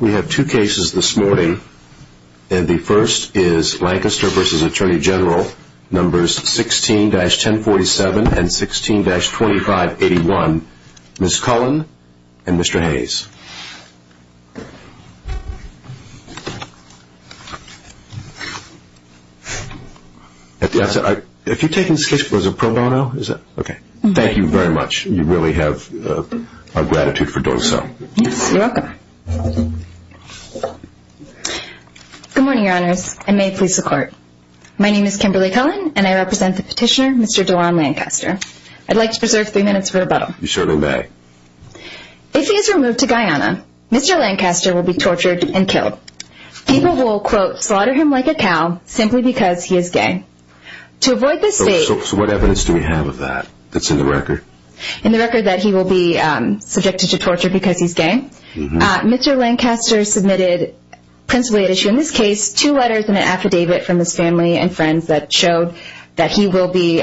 We have two cases this morning. And the first is Lancaster v. Attorney General, numbers 16-1047 and 16-2581. Ms. Cullen and Mr. Hayes. If you're taking this case, was it pro bono? Thank you very much. You really have our gratitude for doing so. You're welcome. Good morning, Your Honors. I may please support. My name is Kimberly Cullen, and I represent the petitioner, Mr. Doron Lancaster. I'd like to preserve three minutes for rebuttal. You certainly may. If he is removed to Guyana, Mr. Lancaster will be tortured and killed. People will, quote, slaughter him like a cow simply because he is gay. So what evidence do we have of that that's in the record? In the record that he will be subjected to torture because he's gay. Mr. Lancaster submitted principally an issue, in this case, two letters and an affidavit from his family and friends that showed that he will be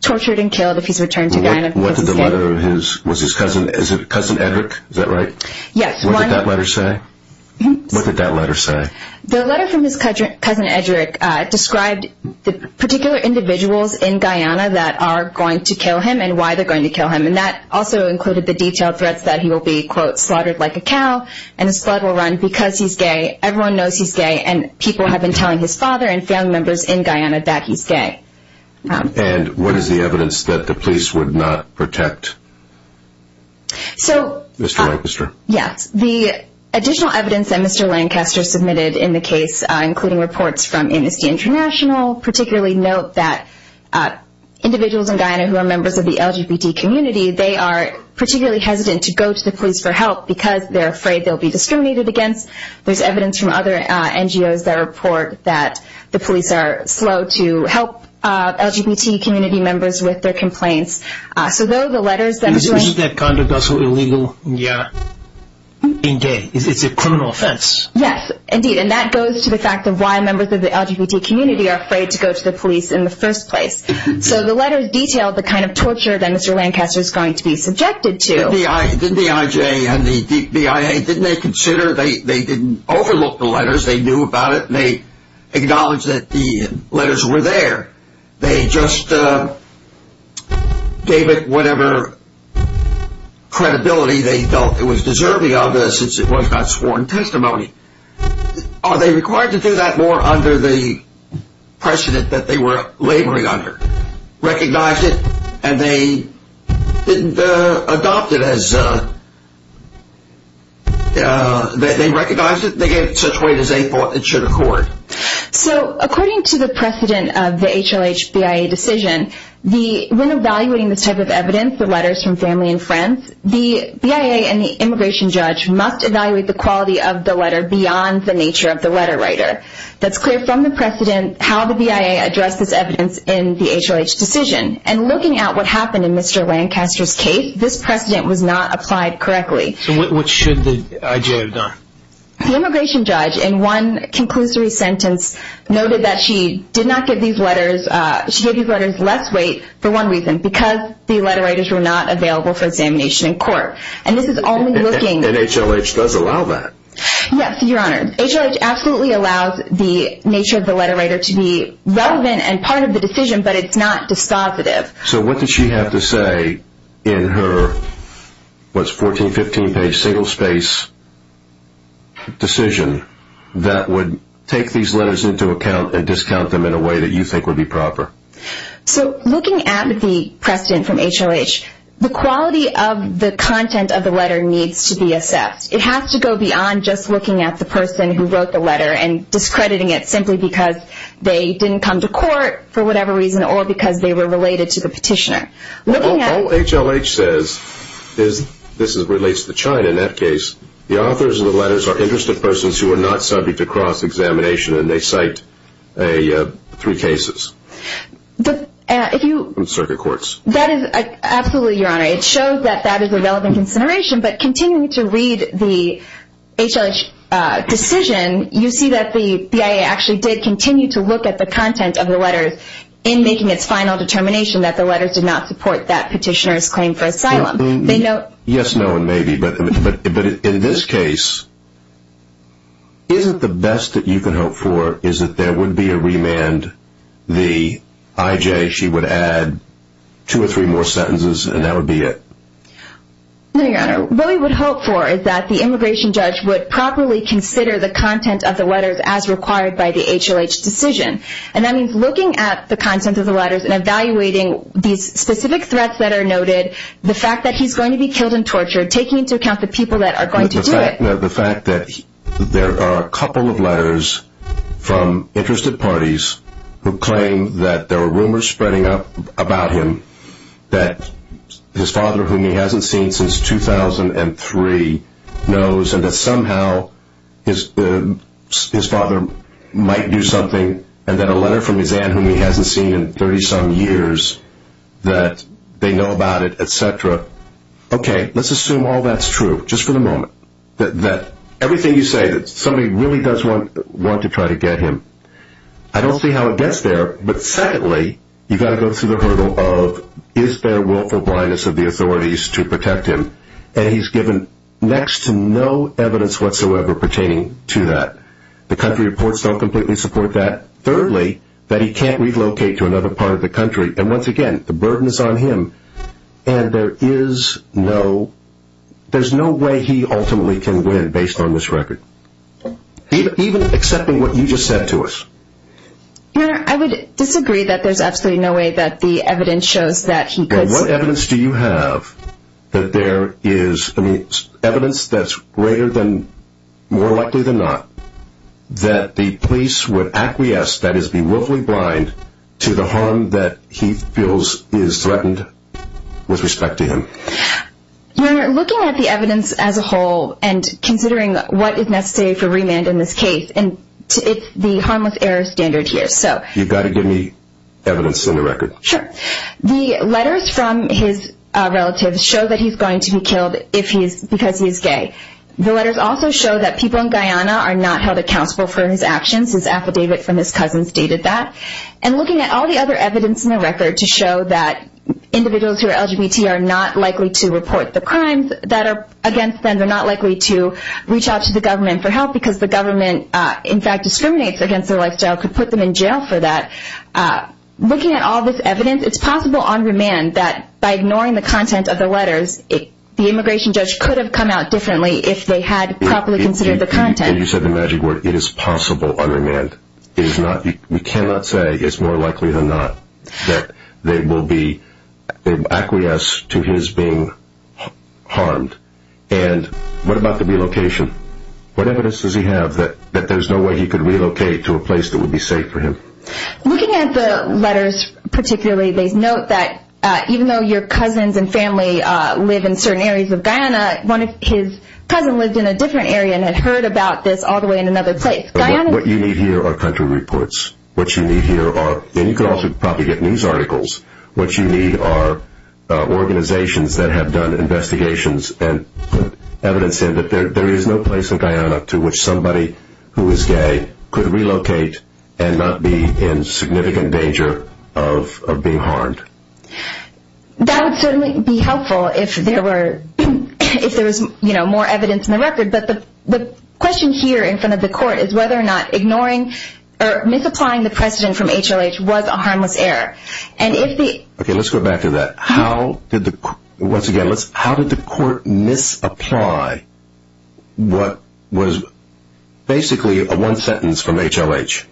tortured and killed if he's returned to Guyana because he's gay. Was it Cousin Edrick? Is that right? Yes. What did that letter say? What did that letter say? The letter from his cousin Edrick described the particular individuals in Guyana that are going to kill him and why they're going to kill him, and that also included the detailed threats that he will be, quote, slaughtered like a cow and his blood will run because he's gay. Everyone knows he's gay, and people have been telling his father and family members in Guyana that he's gay. And what is the evidence that the police would not protect? Mr. Lancaster. Yes. The additional evidence that Mr. Lancaster submitted in the case, including reports from Amnesty International, particularly note that individuals in Guyana who are members of the LGBT community, they are particularly hesitant to go to the police for help because they're afraid they'll be discriminated against. There's evidence from other NGOs that report that the police are slow to help LGBT community members with their complaints. Isn't that kind of also illegal in Guyana? It's a criminal offense. Yes, indeed, and that goes to the fact of why members of the LGBT community are afraid to go to the police in the first place. So the letter detailed the kind of torture that Mr. Lancaster is going to be subjected to. The BIJ and the BIA, didn't they consider, they didn't overlook the letters, they knew about it, and they acknowledged that the letters were there. They just gave it whatever credibility they felt it was deserving of since it was not sworn testimony. Are they required to do that more under the precedent that they were laboring under? Recognized it and they didn't adopt it as, they recognized it, they gave it such weight as they thought it should accord. So according to the precedent of the HLH-BIA decision, when evaluating this type of evidence, the letters from family and friends, the BIA and the immigration judge must evaluate the quality of the letter beyond the nature of the letter writer. That's clear from the precedent how the BIA addressed this evidence in the HLH decision. And looking at what happened in Mr. Lancaster's case, this precedent was not applied correctly. So what should the IJ have done? The immigration judge in one conclusory sentence noted that she did not give these letters, she gave these letters less weight for one reason, because the letter writers were not available for examination in court. And this is only looking... And HLH does allow that. Yes, your honor. HLH absolutely allows the nature of the letter writer to be relevant and part of the decision, but it's not dispositive. So what did she have to say in her, what's 14, 15 page single space decision that would take these letters into account and discount them in a way that you think would be proper? So looking at the precedent from HLH, the quality of the content of the letter needs to be assessed. It has to go beyond just looking at the person who wrote the letter and discrediting it simply because they didn't come to court for whatever reason or because they were related to the petitioner. All HLH says, this relates to China in that case, the authors of the letters are interested persons who are not subject to cross-examination and they cite three cases from circuit courts. Absolutely, your honor. It shows that that is a relevant consideration, but continuing to read the HLH decision, you see that the BIA actually did continue to look at the content of the letters in making its final determination that the letters did not support that petitioner's claim for asylum. Yes, no, and maybe, but in this case, isn't the best that you can hope for is that there would be a remand, the IJ, she would add two or three more sentences and that would be it? No, your honor. What we would hope for is that the immigration judge would properly consider the content of the letters as required by the HLH decision. And that means looking at the content of the letters and evaluating these specific threats that are noted, the fact that he's going to be killed and tortured, taking into account the people that are going to do it. The fact that there are a couple of letters from interested parties who claim that there were rumors spreading up about him that his father, whom he hasn't seen since 2003, knows and that somehow his father might do something and that a letter from his aunt, whom he hasn't seen in 30-some years, that they know about it, etc. Okay, let's assume all that's true, just for the moment. That everything you say, that somebody really does want to try to get him, I don't see how it gets there. But secondly, you've got to go through the hurdle of, is there willful blindness of the authorities to protect him? And he's given next to no evidence whatsoever pertaining to that. The country reports don't completely support that. Thirdly, that he can't relocate to another part of the country. And once again, the burden is on him and there is no way he ultimately can win based on this record. Even accepting what you just said to us. Your Honor, I would disagree that there's absolutely no way that the evidence shows that he could... Well, what evidence do you have that there is evidence that's greater than, more likely than not, that the police would acquiesce, that is, be willfully blind to the harm that he feels is threatened with respect to him? Your Honor, looking at the evidence as a whole and considering what is necessary for remand in this case and it's the harmless error standard here, so... You've got to give me evidence in the record. Sure. The letters from his relatives show that he's going to be killed because he's gay. The letters also show that people in Guyana are not held accountable for his actions. His affidavit from his cousins stated that. And looking at all the other evidence in the record to show that individuals who are LGBT are not likely to report the crimes that are against them. They're not likely to reach out to the government for help because the government, in fact, discriminates against their lifestyle, could put them in jail for that. Looking at all this evidence, it's possible on remand that by ignoring the content of the letters, the immigration judge could have come out differently if they had properly considered the content. And you said the magic word, it is possible on remand. We cannot say it's more likely than not that they will be acquiesced to his being harmed. And what about the relocation? What evidence does he have that there's no way he could relocate to a place that would be safe for him? Looking at the letters particularly, they note that even though your cousins and family live in certain areas of Guyana, one of his cousins lived in a different area and had heard about this all the way in another place. What you need here are country reports. What you need here are, and you could also probably get news articles, what you need are organizations that have done investigations and put evidence in that there is no place in Guyana to which somebody who is gay could relocate and not be in significant danger of being harmed. That would certainly be helpful if there was more evidence in the record. But the question here in front of the court is whether or not ignoring or misapplying the precedent from HLH was a harmless error. Okay, let's go back to that. Once again, how did the court misapply what was basically a one sentence from HLH?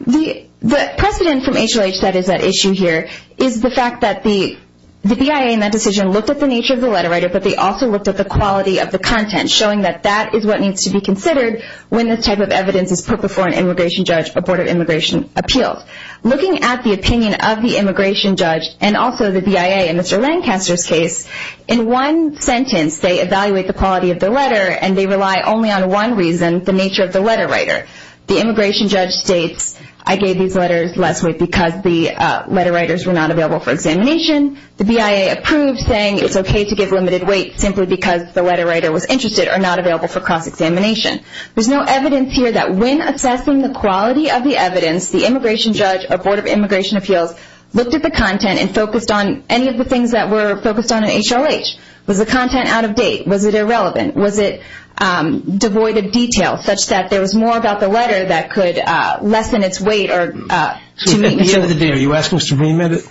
The precedent from HLH that is at issue here is the fact that the BIA in that decision looked at the nature of the letter, but they also looked at the quality of the content, showing that that is what needs to be considered when this type of evidence is put before an immigration judge, a board of immigration appeals. Looking at the opinion of the immigration judge and also the BIA in Mr. Lancaster's case, in one sentence they evaluate the quality of the letter and they rely only on one reason, the nature of the letter writer. The immigration judge states, I gave these letters less weight because the letter writers were not available for examination. The BIA approved saying it's okay to give limited weight simply because the letter writer was interested or not available for cross-examination. There's no evidence here that when assessing the quality of the evidence, the immigration judge or board of immigration appeals looked at the content and focused on any of the things that were focused on in HLH. Was the content out of date? Was it irrelevant? Was it devoid of detail such that there was more about the letter that could lessen its weight? So at the end of the day, are you asking us to remit it?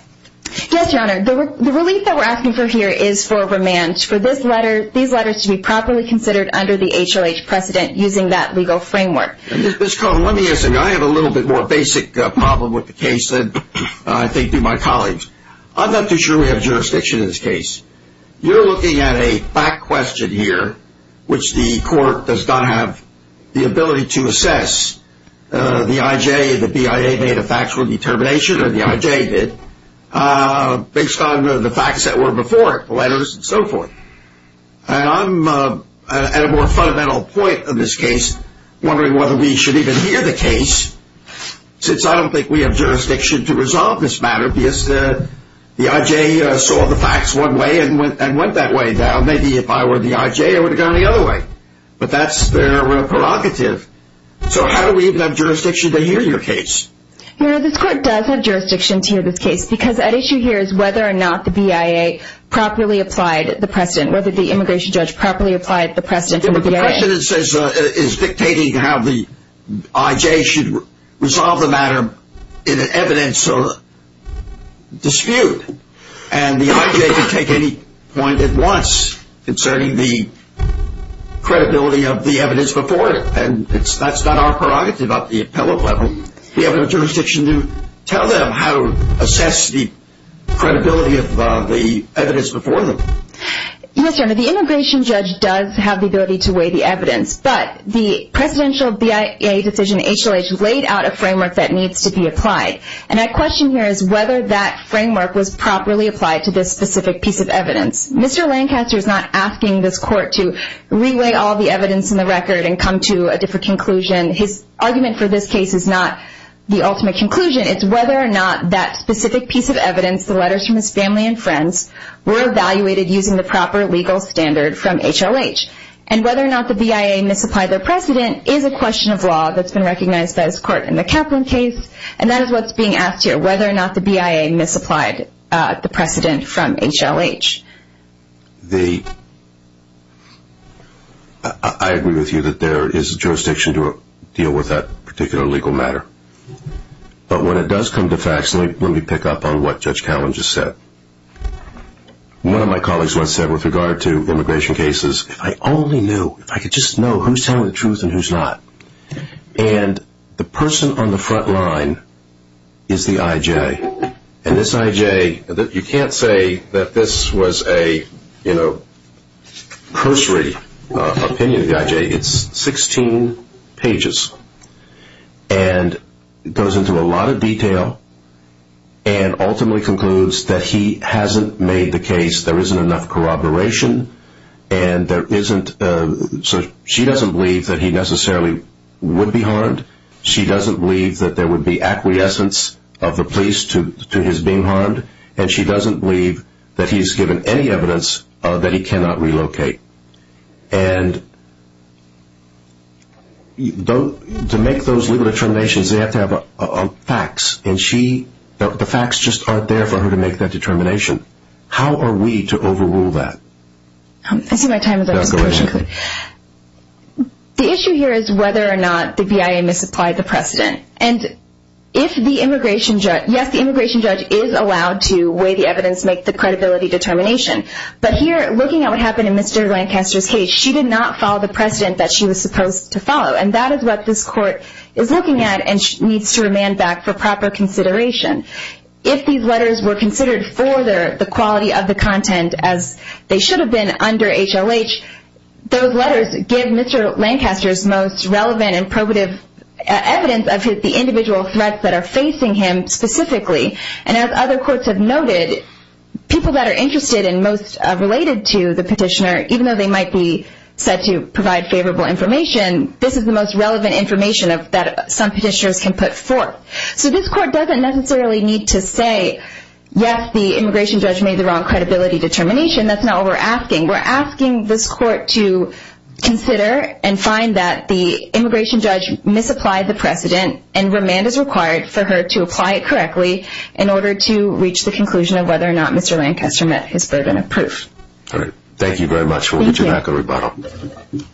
Yes, Your Honor. The relief that we're asking for here is for remand, for these letters to be properly considered under the HLH precedent using that legal framework. Ms. Cohen, let me ask you. I have a little bit more basic problem with the case than I think do my colleagues. I'm not too sure we have jurisdiction in this case. You're looking at a fact question here, which the court does not have the ability to assess. The IJ, the BIA made a factual determination, or the IJ did, based on the facts that were before it, the letters and so forth. And I'm at a more fundamental point in this case, wondering whether we should even hear the case, since I don't think we have jurisdiction to resolve this matter, because the IJ saw the facts one way and went that way. Now, maybe if I were the IJ, I would have gone the other way. But that's their prerogative. So how do we even have jurisdiction to hear your case? Your Honor, this court does have jurisdiction to hear this case, because at issue here is whether or not the BIA properly applied the precedent, whether the immigration judge properly applied the precedent for the BIA. The precedent is dictating how the IJ should resolve the matter in an evidence dispute. And the IJ can take any point it wants concerning the credibility of the evidence before it. And that's not our prerogative at the appellate level. We have no jurisdiction to tell them how to assess the credibility of the evidence before them. Yes, Your Honor, the immigration judge does have the ability to weigh the evidence. But the presidential BIA decision, HLH, laid out a framework that needs to be applied. And my question here is whether that framework was properly applied to this specific piece of evidence. Mr. Lancaster is not asking this court to re-weigh all the evidence in the record and come to a different conclusion. His argument for this case is not the ultimate conclusion. It's whether or not that specific piece of evidence, the letters from his family and friends, were evaluated using the proper legal standard from HLH. And whether or not the BIA misapplied their precedent is a question of law that's been recognized by this court in the Kaplan case. And that is what's being asked here, whether or not the BIA misapplied the precedent from HLH. I agree with you that there is jurisdiction to deal with that particular legal matter. But when it does come to facts, let me pick up on what Judge Callen just said. One of my colleagues once said with regard to immigration cases, if I only knew, if I could just know who's telling the truth and who's not. And the person on the front line is the I.J. And this I.J., you can't say that this was a cursory opinion of the I.J. It's 16 pages. And it goes into a lot of detail and ultimately concludes that he hasn't made the case. There isn't enough corroboration. And there isn't, she doesn't believe that he necessarily would be harmed. She doesn't believe that there would be acquiescence of the police to his being harmed. And she doesn't believe that he's given any evidence that he cannot relocate. And to make those legal determinations, they have to have facts. And she, the facts just aren't there for her to make that determination. How are we to overrule that? I see my time is up. Go ahead. The issue here is whether or not the BIA misapplied the precedent. And if the immigration judge, yes, the immigration judge is allowed to weigh the evidence, make the credibility determination. But here, looking at what happened in Mr. Lancaster's case, she did not follow the precedent that she was supposed to follow. And that is what this court is looking at and needs to remand back for proper consideration. If these letters were considered for the quality of the content, as they should have been under HLH, those letters give Mr. Lancaster's most relevant and probative evidence of the individual threats that are facing him specifically. And as other courts have noted, people that are interested and most related to the petitioner, even though they might be said to provide favorable information, this is the most relevant information that some petitioners can put forth. So this court doesn't necessarily need to say, yes, the immigration judge made the wrong credibility determination. That's not what we're asking. We're asking this court to consider and find that the immigration judge misapplied the precedent and remand is required for her to apply it correctly in order to reach the conclusion of whether or not Mr. Lancaster met his burden of proof. All right. Thank you very much. We'll get you back in rebuttal. Thank you.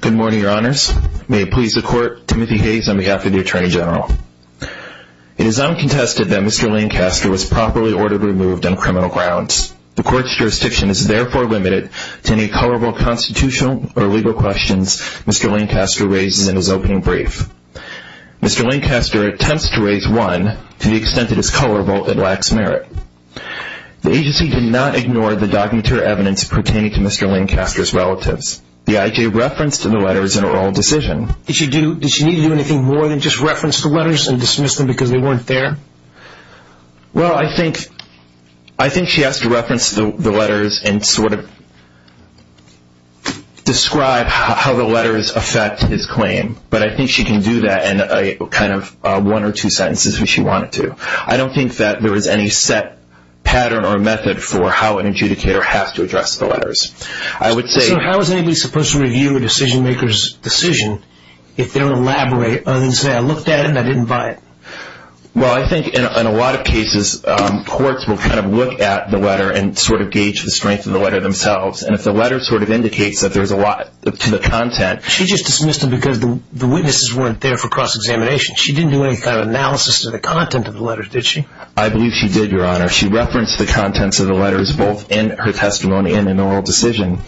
Good morning, Your Honors. May it please the court, Timothy Hayes on behalf of the Attorney General. It is uncontested that Mr. Lancaster was properly ordered removed on criminal grounds. The court's jurisdiction is therefore limited to any colorable constitutional or legal questions Mr. Lancaster raises in his opening brief. Mr. Lancaster attempts to raise one to the extent that it's colorable and lacks merit. The agency did not ignore the documentary evidence pertaining to Mr. Lancaster's relatives. The IJ referenced the letters in an oral decision. Did she need to do anything more than just reference the letters and dismiss them because they weren't there? Well, I think she has to reference the letters and sort of describe how the letters affect his claim. But I think she can do that in kind of one or two sentences if she wanted to. I don't think that there is any set pattern or method for how an adjudicator has to address the letters. I would say- So how is anybody supposed to review a decision maker's decision if they don't elaborate and say, I looked at it and I didn't buy it? Well, I think in a lot of cases courts will kind of look at the letter and sort of gauge the strength of the letter themselves. And if the letter sort of indicates that there's a lot to the content- She just dismissed them because the witnesses weren't there for cross-examination. She didn't do any kind of analysis of the content of the letters, did she? I believe she did, Your Honor. She referenced the contents of the letters both in her testimony and in an oral decision.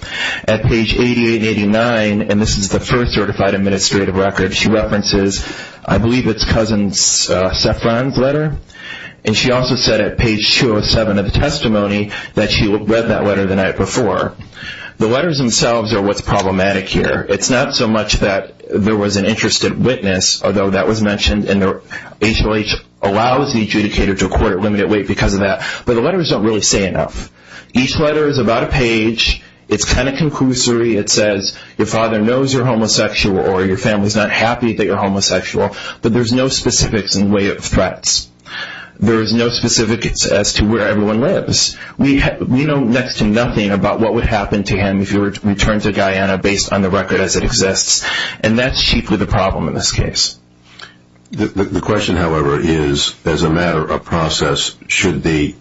At page 88 and 89, and this is the first certified administrative record, she references I believe it's Cousin Saffron's letter. And she also said at page 207 of the testimony that she read that letter the night before. The letters themselves are what's problematic here. It's not so much that there was an interested witness, although that was mentioned, and HLH allows the adjudicator to court at limited weight because of that, but the letters don't really say enough. Each letter is about a page. It's kind of conclusory. It says your father knows you're homosexual or your family's not happy that you're homosexual, but there's no specifics in the way of threats. There is no specifics as to where everyone lives. We know next to nothing about what would happen to him if he were to return to Guyana based on the record as it exists, and that's chiefly the problem in this case. The question, however, is as a matter of process, should the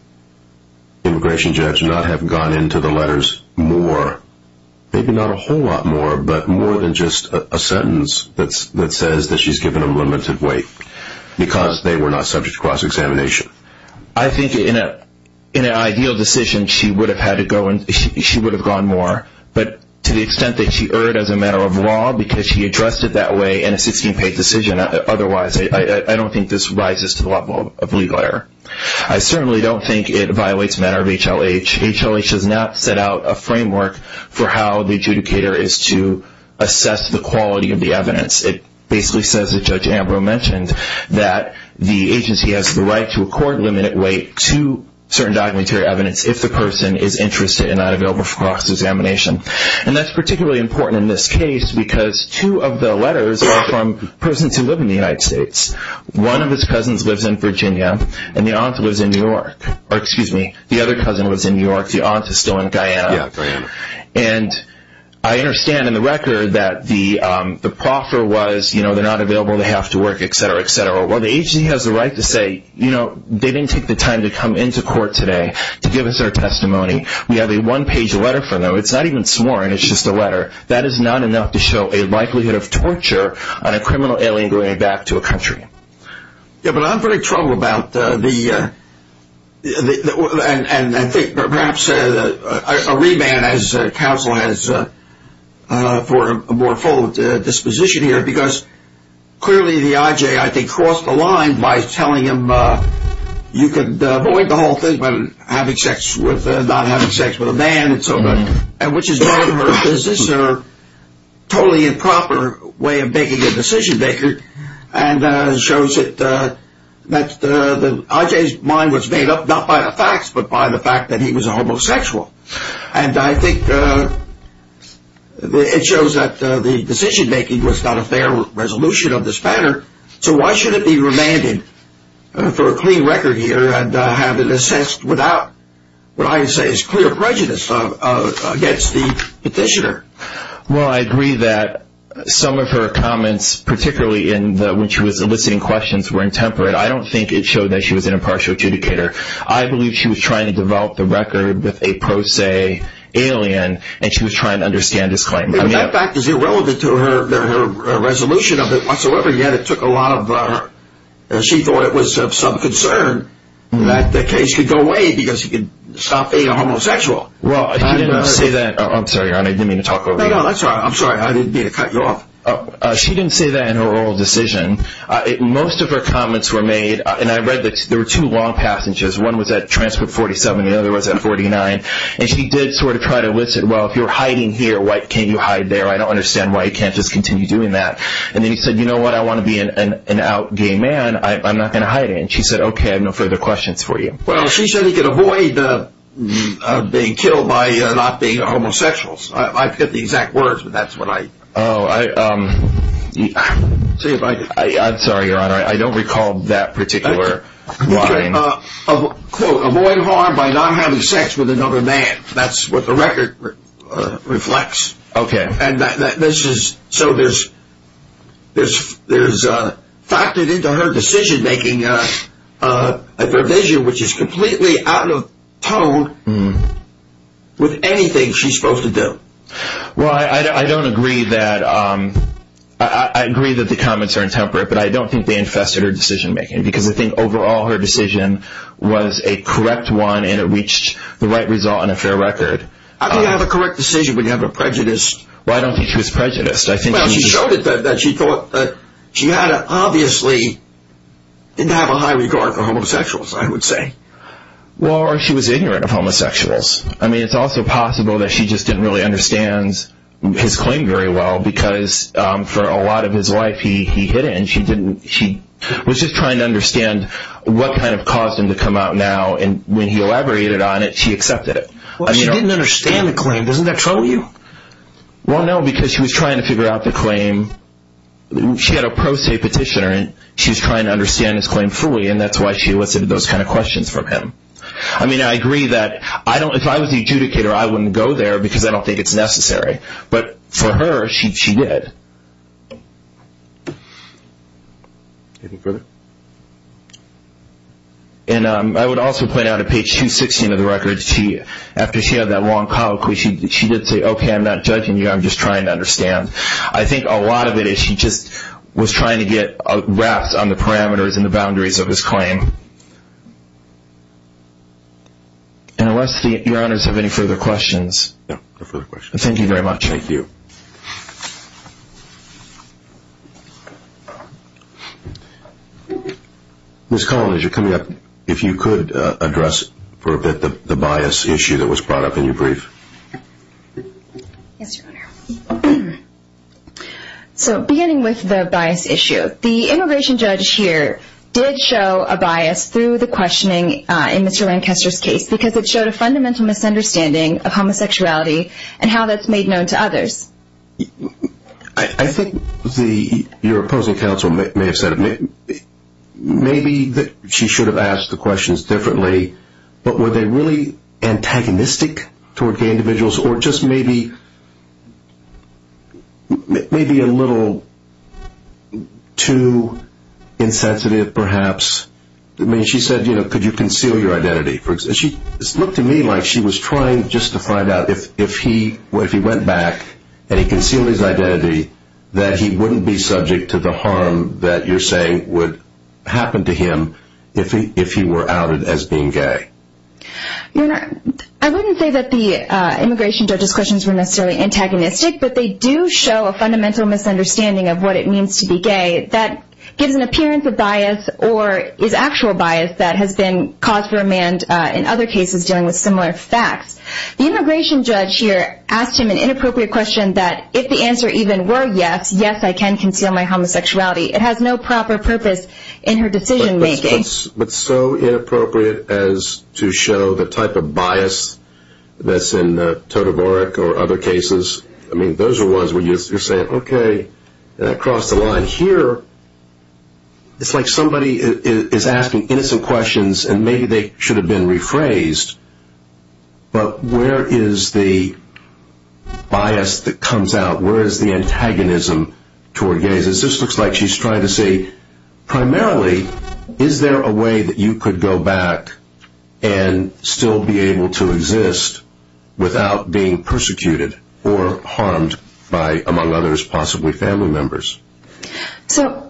immigration judge not have gone into the letters more, maybe not a whole lot more, but more than just a sentence that says that she's given him limited weight because they were not subject to cross-examination? I think in an ideal decision she would have gone more, but to the extent that she erred as a matter of law because she addressed it that way in a 16-page decision, otherwise I don't think this rises to the level of legal error. I certainly don't think it violates a matter of HLH. HLH has not set out a framework for how the adjudicator is to assess the quality of the evidence. It basically says, as Judge Ambrose mentioned, that the agency has the right to a court limited weight to certain documentary evidence if the person is interested and not available for cross-examination. And that's particularly important in this case because two of the letters are from persons who live in the United States. One of his cousins lives in Virginia and the other cousin lives in New York. The aunt is still in Guyana. And I understand in the record that the proffer was they're not available, they have to work, et cetera, et cetera. Well, the agency has the right to say they didn't take the time to come into court today to give us their testimony. We have a one-page letter from them. It's not even sworn. It's just a letter. That is not enough to show a likelihood of torture on a criminal alien going back to a country. Yeah, but I'm very troubled about the – and I think perhaps a remand as counsel for a more full disposition here because clearly the IJ, I think, crossed the line by telling him you could avoid the whole thing, but having sex with – not having sex with a man and so on, which is none of her business or totally improper way of making a decision-maker and shows that the IJ's mind was made up not by the facts, but by the fact that he was a homosexual. And I think it shows that the decision-making was not a fair resolution of this matter. So why should it be remanded for a clean record here and have it assessed without what I would say is clear prejudice against the petitioner? Well, I agree that some of her comments, particularly when she was eliciting questions, were intemperate. I don't think it showed that she was an impartial adjudicator. I believe she was trying to develop the record with a pro se alien, and she was trying to understand his claim. That fact is irrelevant to her resolution of it whatsoever, yet it took a lot of – she thought it was of some concern that the case could go away because he could stop being a homosexual. Well, she didn't say that – I'm sorry, Your Honor, I didn't mean to talk over you. No, no, that's all right. I'm sorry. I didn't mean to cut you off. She didn't say that in her oral decision. Most of her comments were made – and I read that there were two long passages. One was at transport 47 and the other was at 49, and she did sort of try to elicit, well, if you're hiding here, why can't you hide there? I don't understand why you can't just continue doing that. And then he said, you know what, I want to be an out gay man. I'm not going to hide it. And she said, okay, I have no further questions for you. Well, she said he could avoid being killed by not being a homosexual. I forget the exact words, but that's what I – Oh, I – I'm sorry, Your Honor, I don't recall that particular line. Quote, avoid harm by not having sex with another man. That's what the record reflects. Okay. And this is – so there's factored into her decision-making a provision which is completely out of tone with anything she's supposed to do. Well, I don't agree that – I agree that the comments are intemperate, but I don't think they infested her decision-making because I think overall her decision was a correct one and it reached the right result and a fair record. How can you have a correct decision when you have a prejudiced – Well, I don't think she was prejudiced. I think she – Well, she showed it that she thought that she obviously didn't have a high regard for homosexuals, I would say. Well, or she was ignorant of homosexuals. I mean, it's also possible that she just didn't really understand his claim very well because for a lot of his life he hid it and she didn't – she was just trying to understand what kind of caused him to come out now and when he elaborated on it, she accepted it. Well, she didn't understand the claim. Doesn't that trouble you? Well, no, because she was trying to figure out the claim. She had a pro se petitioner and she was trying to understand his claim fully and that's why she elicited those kind of questions from him. I mean, I agree that I don't – if I was the adjudicator, I wouldn't go there because I don't think it's necessary. But for her, she did. Anything further? And I would also point out at page 216 of the record, after she had that long colloquy, she did say, okay, I'm not judging you, I'm just trying to understand. I think a lot of it is she just was trying to get a grasp on the parameters and the boundaries of his claim. And unless your honors have any further questions. No, no further questions. Thank you very much. Thank you. Ms. Collins, you're coming up. If you could address for a bit the bias issue that was brought up in your brief. Yes, your honor. So beginning with the bias issue, the immigration judge here did show a bias through the questioning in Mr. Lancaster's case because it showed a fundamental misunderstanding of homosexuality and how that's made known to others. I think your opposing counsel may have said maybe she should have asked the questions differently, but were they really antagonistic toward gay individuals or just maybe a little too insensitive perhaps? I mean, she said, you know, could you conceal your identity. It looked to me like she was trying just to find out if he went back and he concealed his identity that he wouldn't be subject to the harm that you're saying would happen to him if he were outed as being gay. Your honor, I wouldn't say that the immigration judge's questions were necessarily antagonistic, but they do show a fundamental misunderstanding of what it means to be gay. That gives an appearance of bias or is actual bias that has been caused for a man in other cases dealing with similar facts. The immigration judge here asked him an inappropriate question that if the answer even were yes, yes, I can conceal my homosexuality. It has no proper purpose in her decision making. But so inappropriate as to show the type of bias that's in Todovorik or other cases. I mean, those are ones where you're saying, okay, that crossed the line. But here it's like somebody is asking innocent questions and maybe they should have been rephrased. But where is the bias that comes out? Where is the antagonism toward gays? This looks like she's trying to say primarily is there a way that you could go back and still be able to exist without being persecuted or harmed by, among others, possibly family members. So,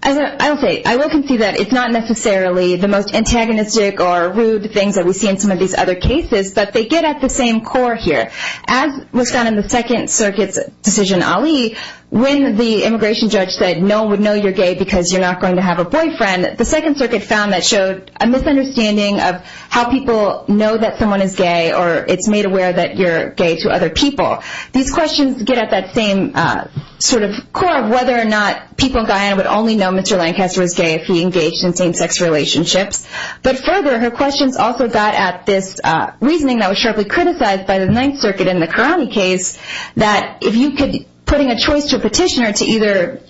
I will say, I will concede that it's not necessarily the most antagonistic or rude things that we see in some of these other cases, but they get at the same core here. As was found in the Second Circuit's decision, Ali, when the immigration judge said no one would know you're gay because you're not going to have a boyfriend, the Second Circuit found that showed a misunderstanding of how people know that someone is gay or it's made aware that you're gay to other people. These questions get at that same sort of core of whether or not people in Guyana would only know Mr. Lancaster was gay if he engaged in same-sex relationships. But further, her questions also got at this reasoning that was sharply criticized by the Ninth Circuit in the Karani case that if you could, putting a choice to a petitioner to either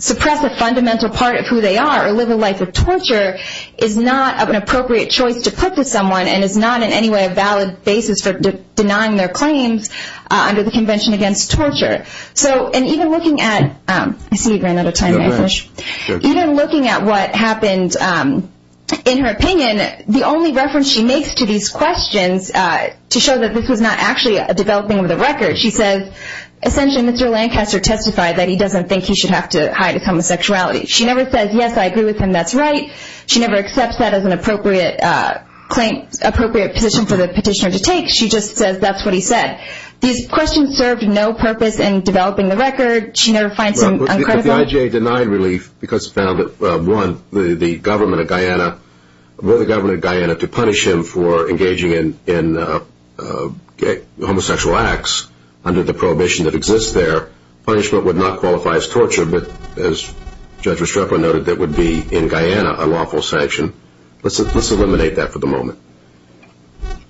suppress a fundamental part of who they are or live a life of torture is not an appropriate choice to put to someone and is not in any way a valid basis for denying their claims under the Convention Against Torture. So, and even looking at, I see you ran out of time. Even looking at what happened, in her opinion, the only reference she makes to these questions to show that this was not actually a developing of the record, she says, essentially Mr. Lancaster testified that he doesn't think he should have to hide his homosexuality. She never says, yes, I agree with him, that's right. She never accepts that as an appropriate claim, appropriate position for the petitioner to take. She just says that's what he said. These questions served no purpose in developing the record. She never finds them uncritical. But the IJA denied relief because it found that, one, the government of Guyana, were the government of Guyana to punish him for engaging in homosexual acts under the prohibition that exists there, punishment would not qualify as torture, but, as Judge Restrepo noted, that would be, in Guyana, a lawful sanction. Let's eliminate that for the moment.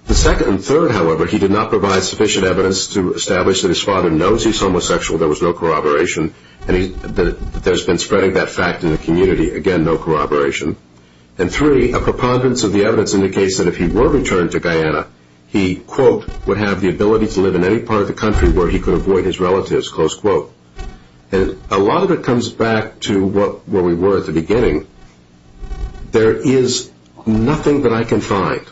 The second and third, however, he did not provide sufficient evidence to establish that his father knows he's homosexual, there was no corroboration, and that there's been spreading that fact in the community. Again, no corroboration. And three, a preponderance of the evidence indicates that if he were returned to Guyana, he, quote, would have the ability to live in any part of the country where he could avoid his relatives, close quote. And a lot of it comes back to where we were at the beginning. There is nothing that I can find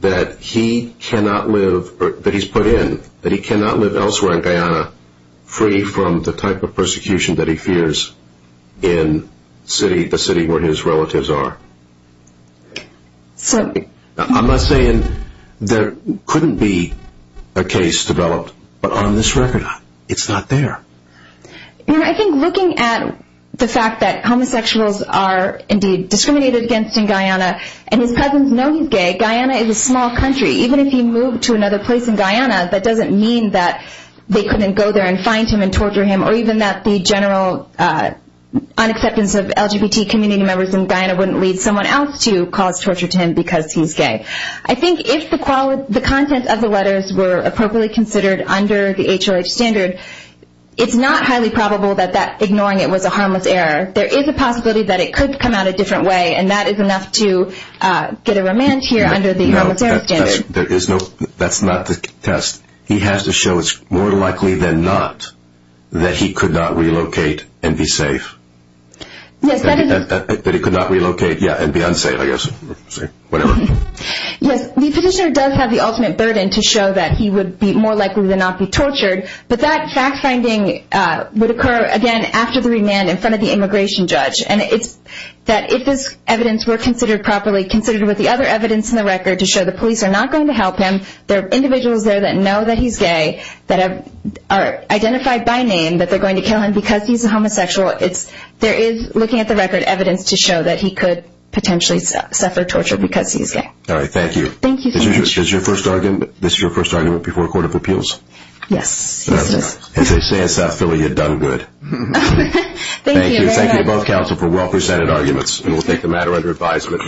that he cannot live, that he's put in, that he cannot live elsewhere in Guyana free from the type of persecution that he fears in the city where his relatives are. I'm not saying there couldn't be a case developed, but on this record, it's not there. You know, I think looking at the fact that homosexuals are, indeed, discriminated against in Guyana, and his cousins know he's gay, Guyana is a small country. Even if he moved to another place in Guyana, that doesn't mean that they couldn't go there and find him and torture him, or even that the general unacceptance of LGBT community members in Guyana wouldn't lead someone else to cause torture to him because he's gay. I think if the content of the letters were appropriately considered under the HRH standard, it's not highly probable that that ignoring it was a harmless error. There is a possibility that it could come out a different way, and that is enough to get a remand here under the harmless error standard. No, that's not the test. He has to show it's more likely than not that he could not relocate and be safe. That he could not relocate, yeah, and be unsafe, I guess. Whatever. Yes, the petitioner does have the ultimate burden to show that he would be more likely than not be tortured, but that fact-finding would occur, again, after the remand in front of the immigration judge. And it's that if this evidence were considered properly, considered with the other evidence in the record to show the police are not going to help him, there are individuals there that know that he's gay, that are identified by name, that they're going to kill him because he's a homosexual, there is, looking at the record, evidence to show that he could potentially suffer torture because he's gay. All right, thank you. Thank you. Is this your first argument before a court of appeals? Yes, it is. It's a Sand South Philly you've done good. Thank you. And thank you to both counsel for well-presented arguments. And we'll take the matter under advisement.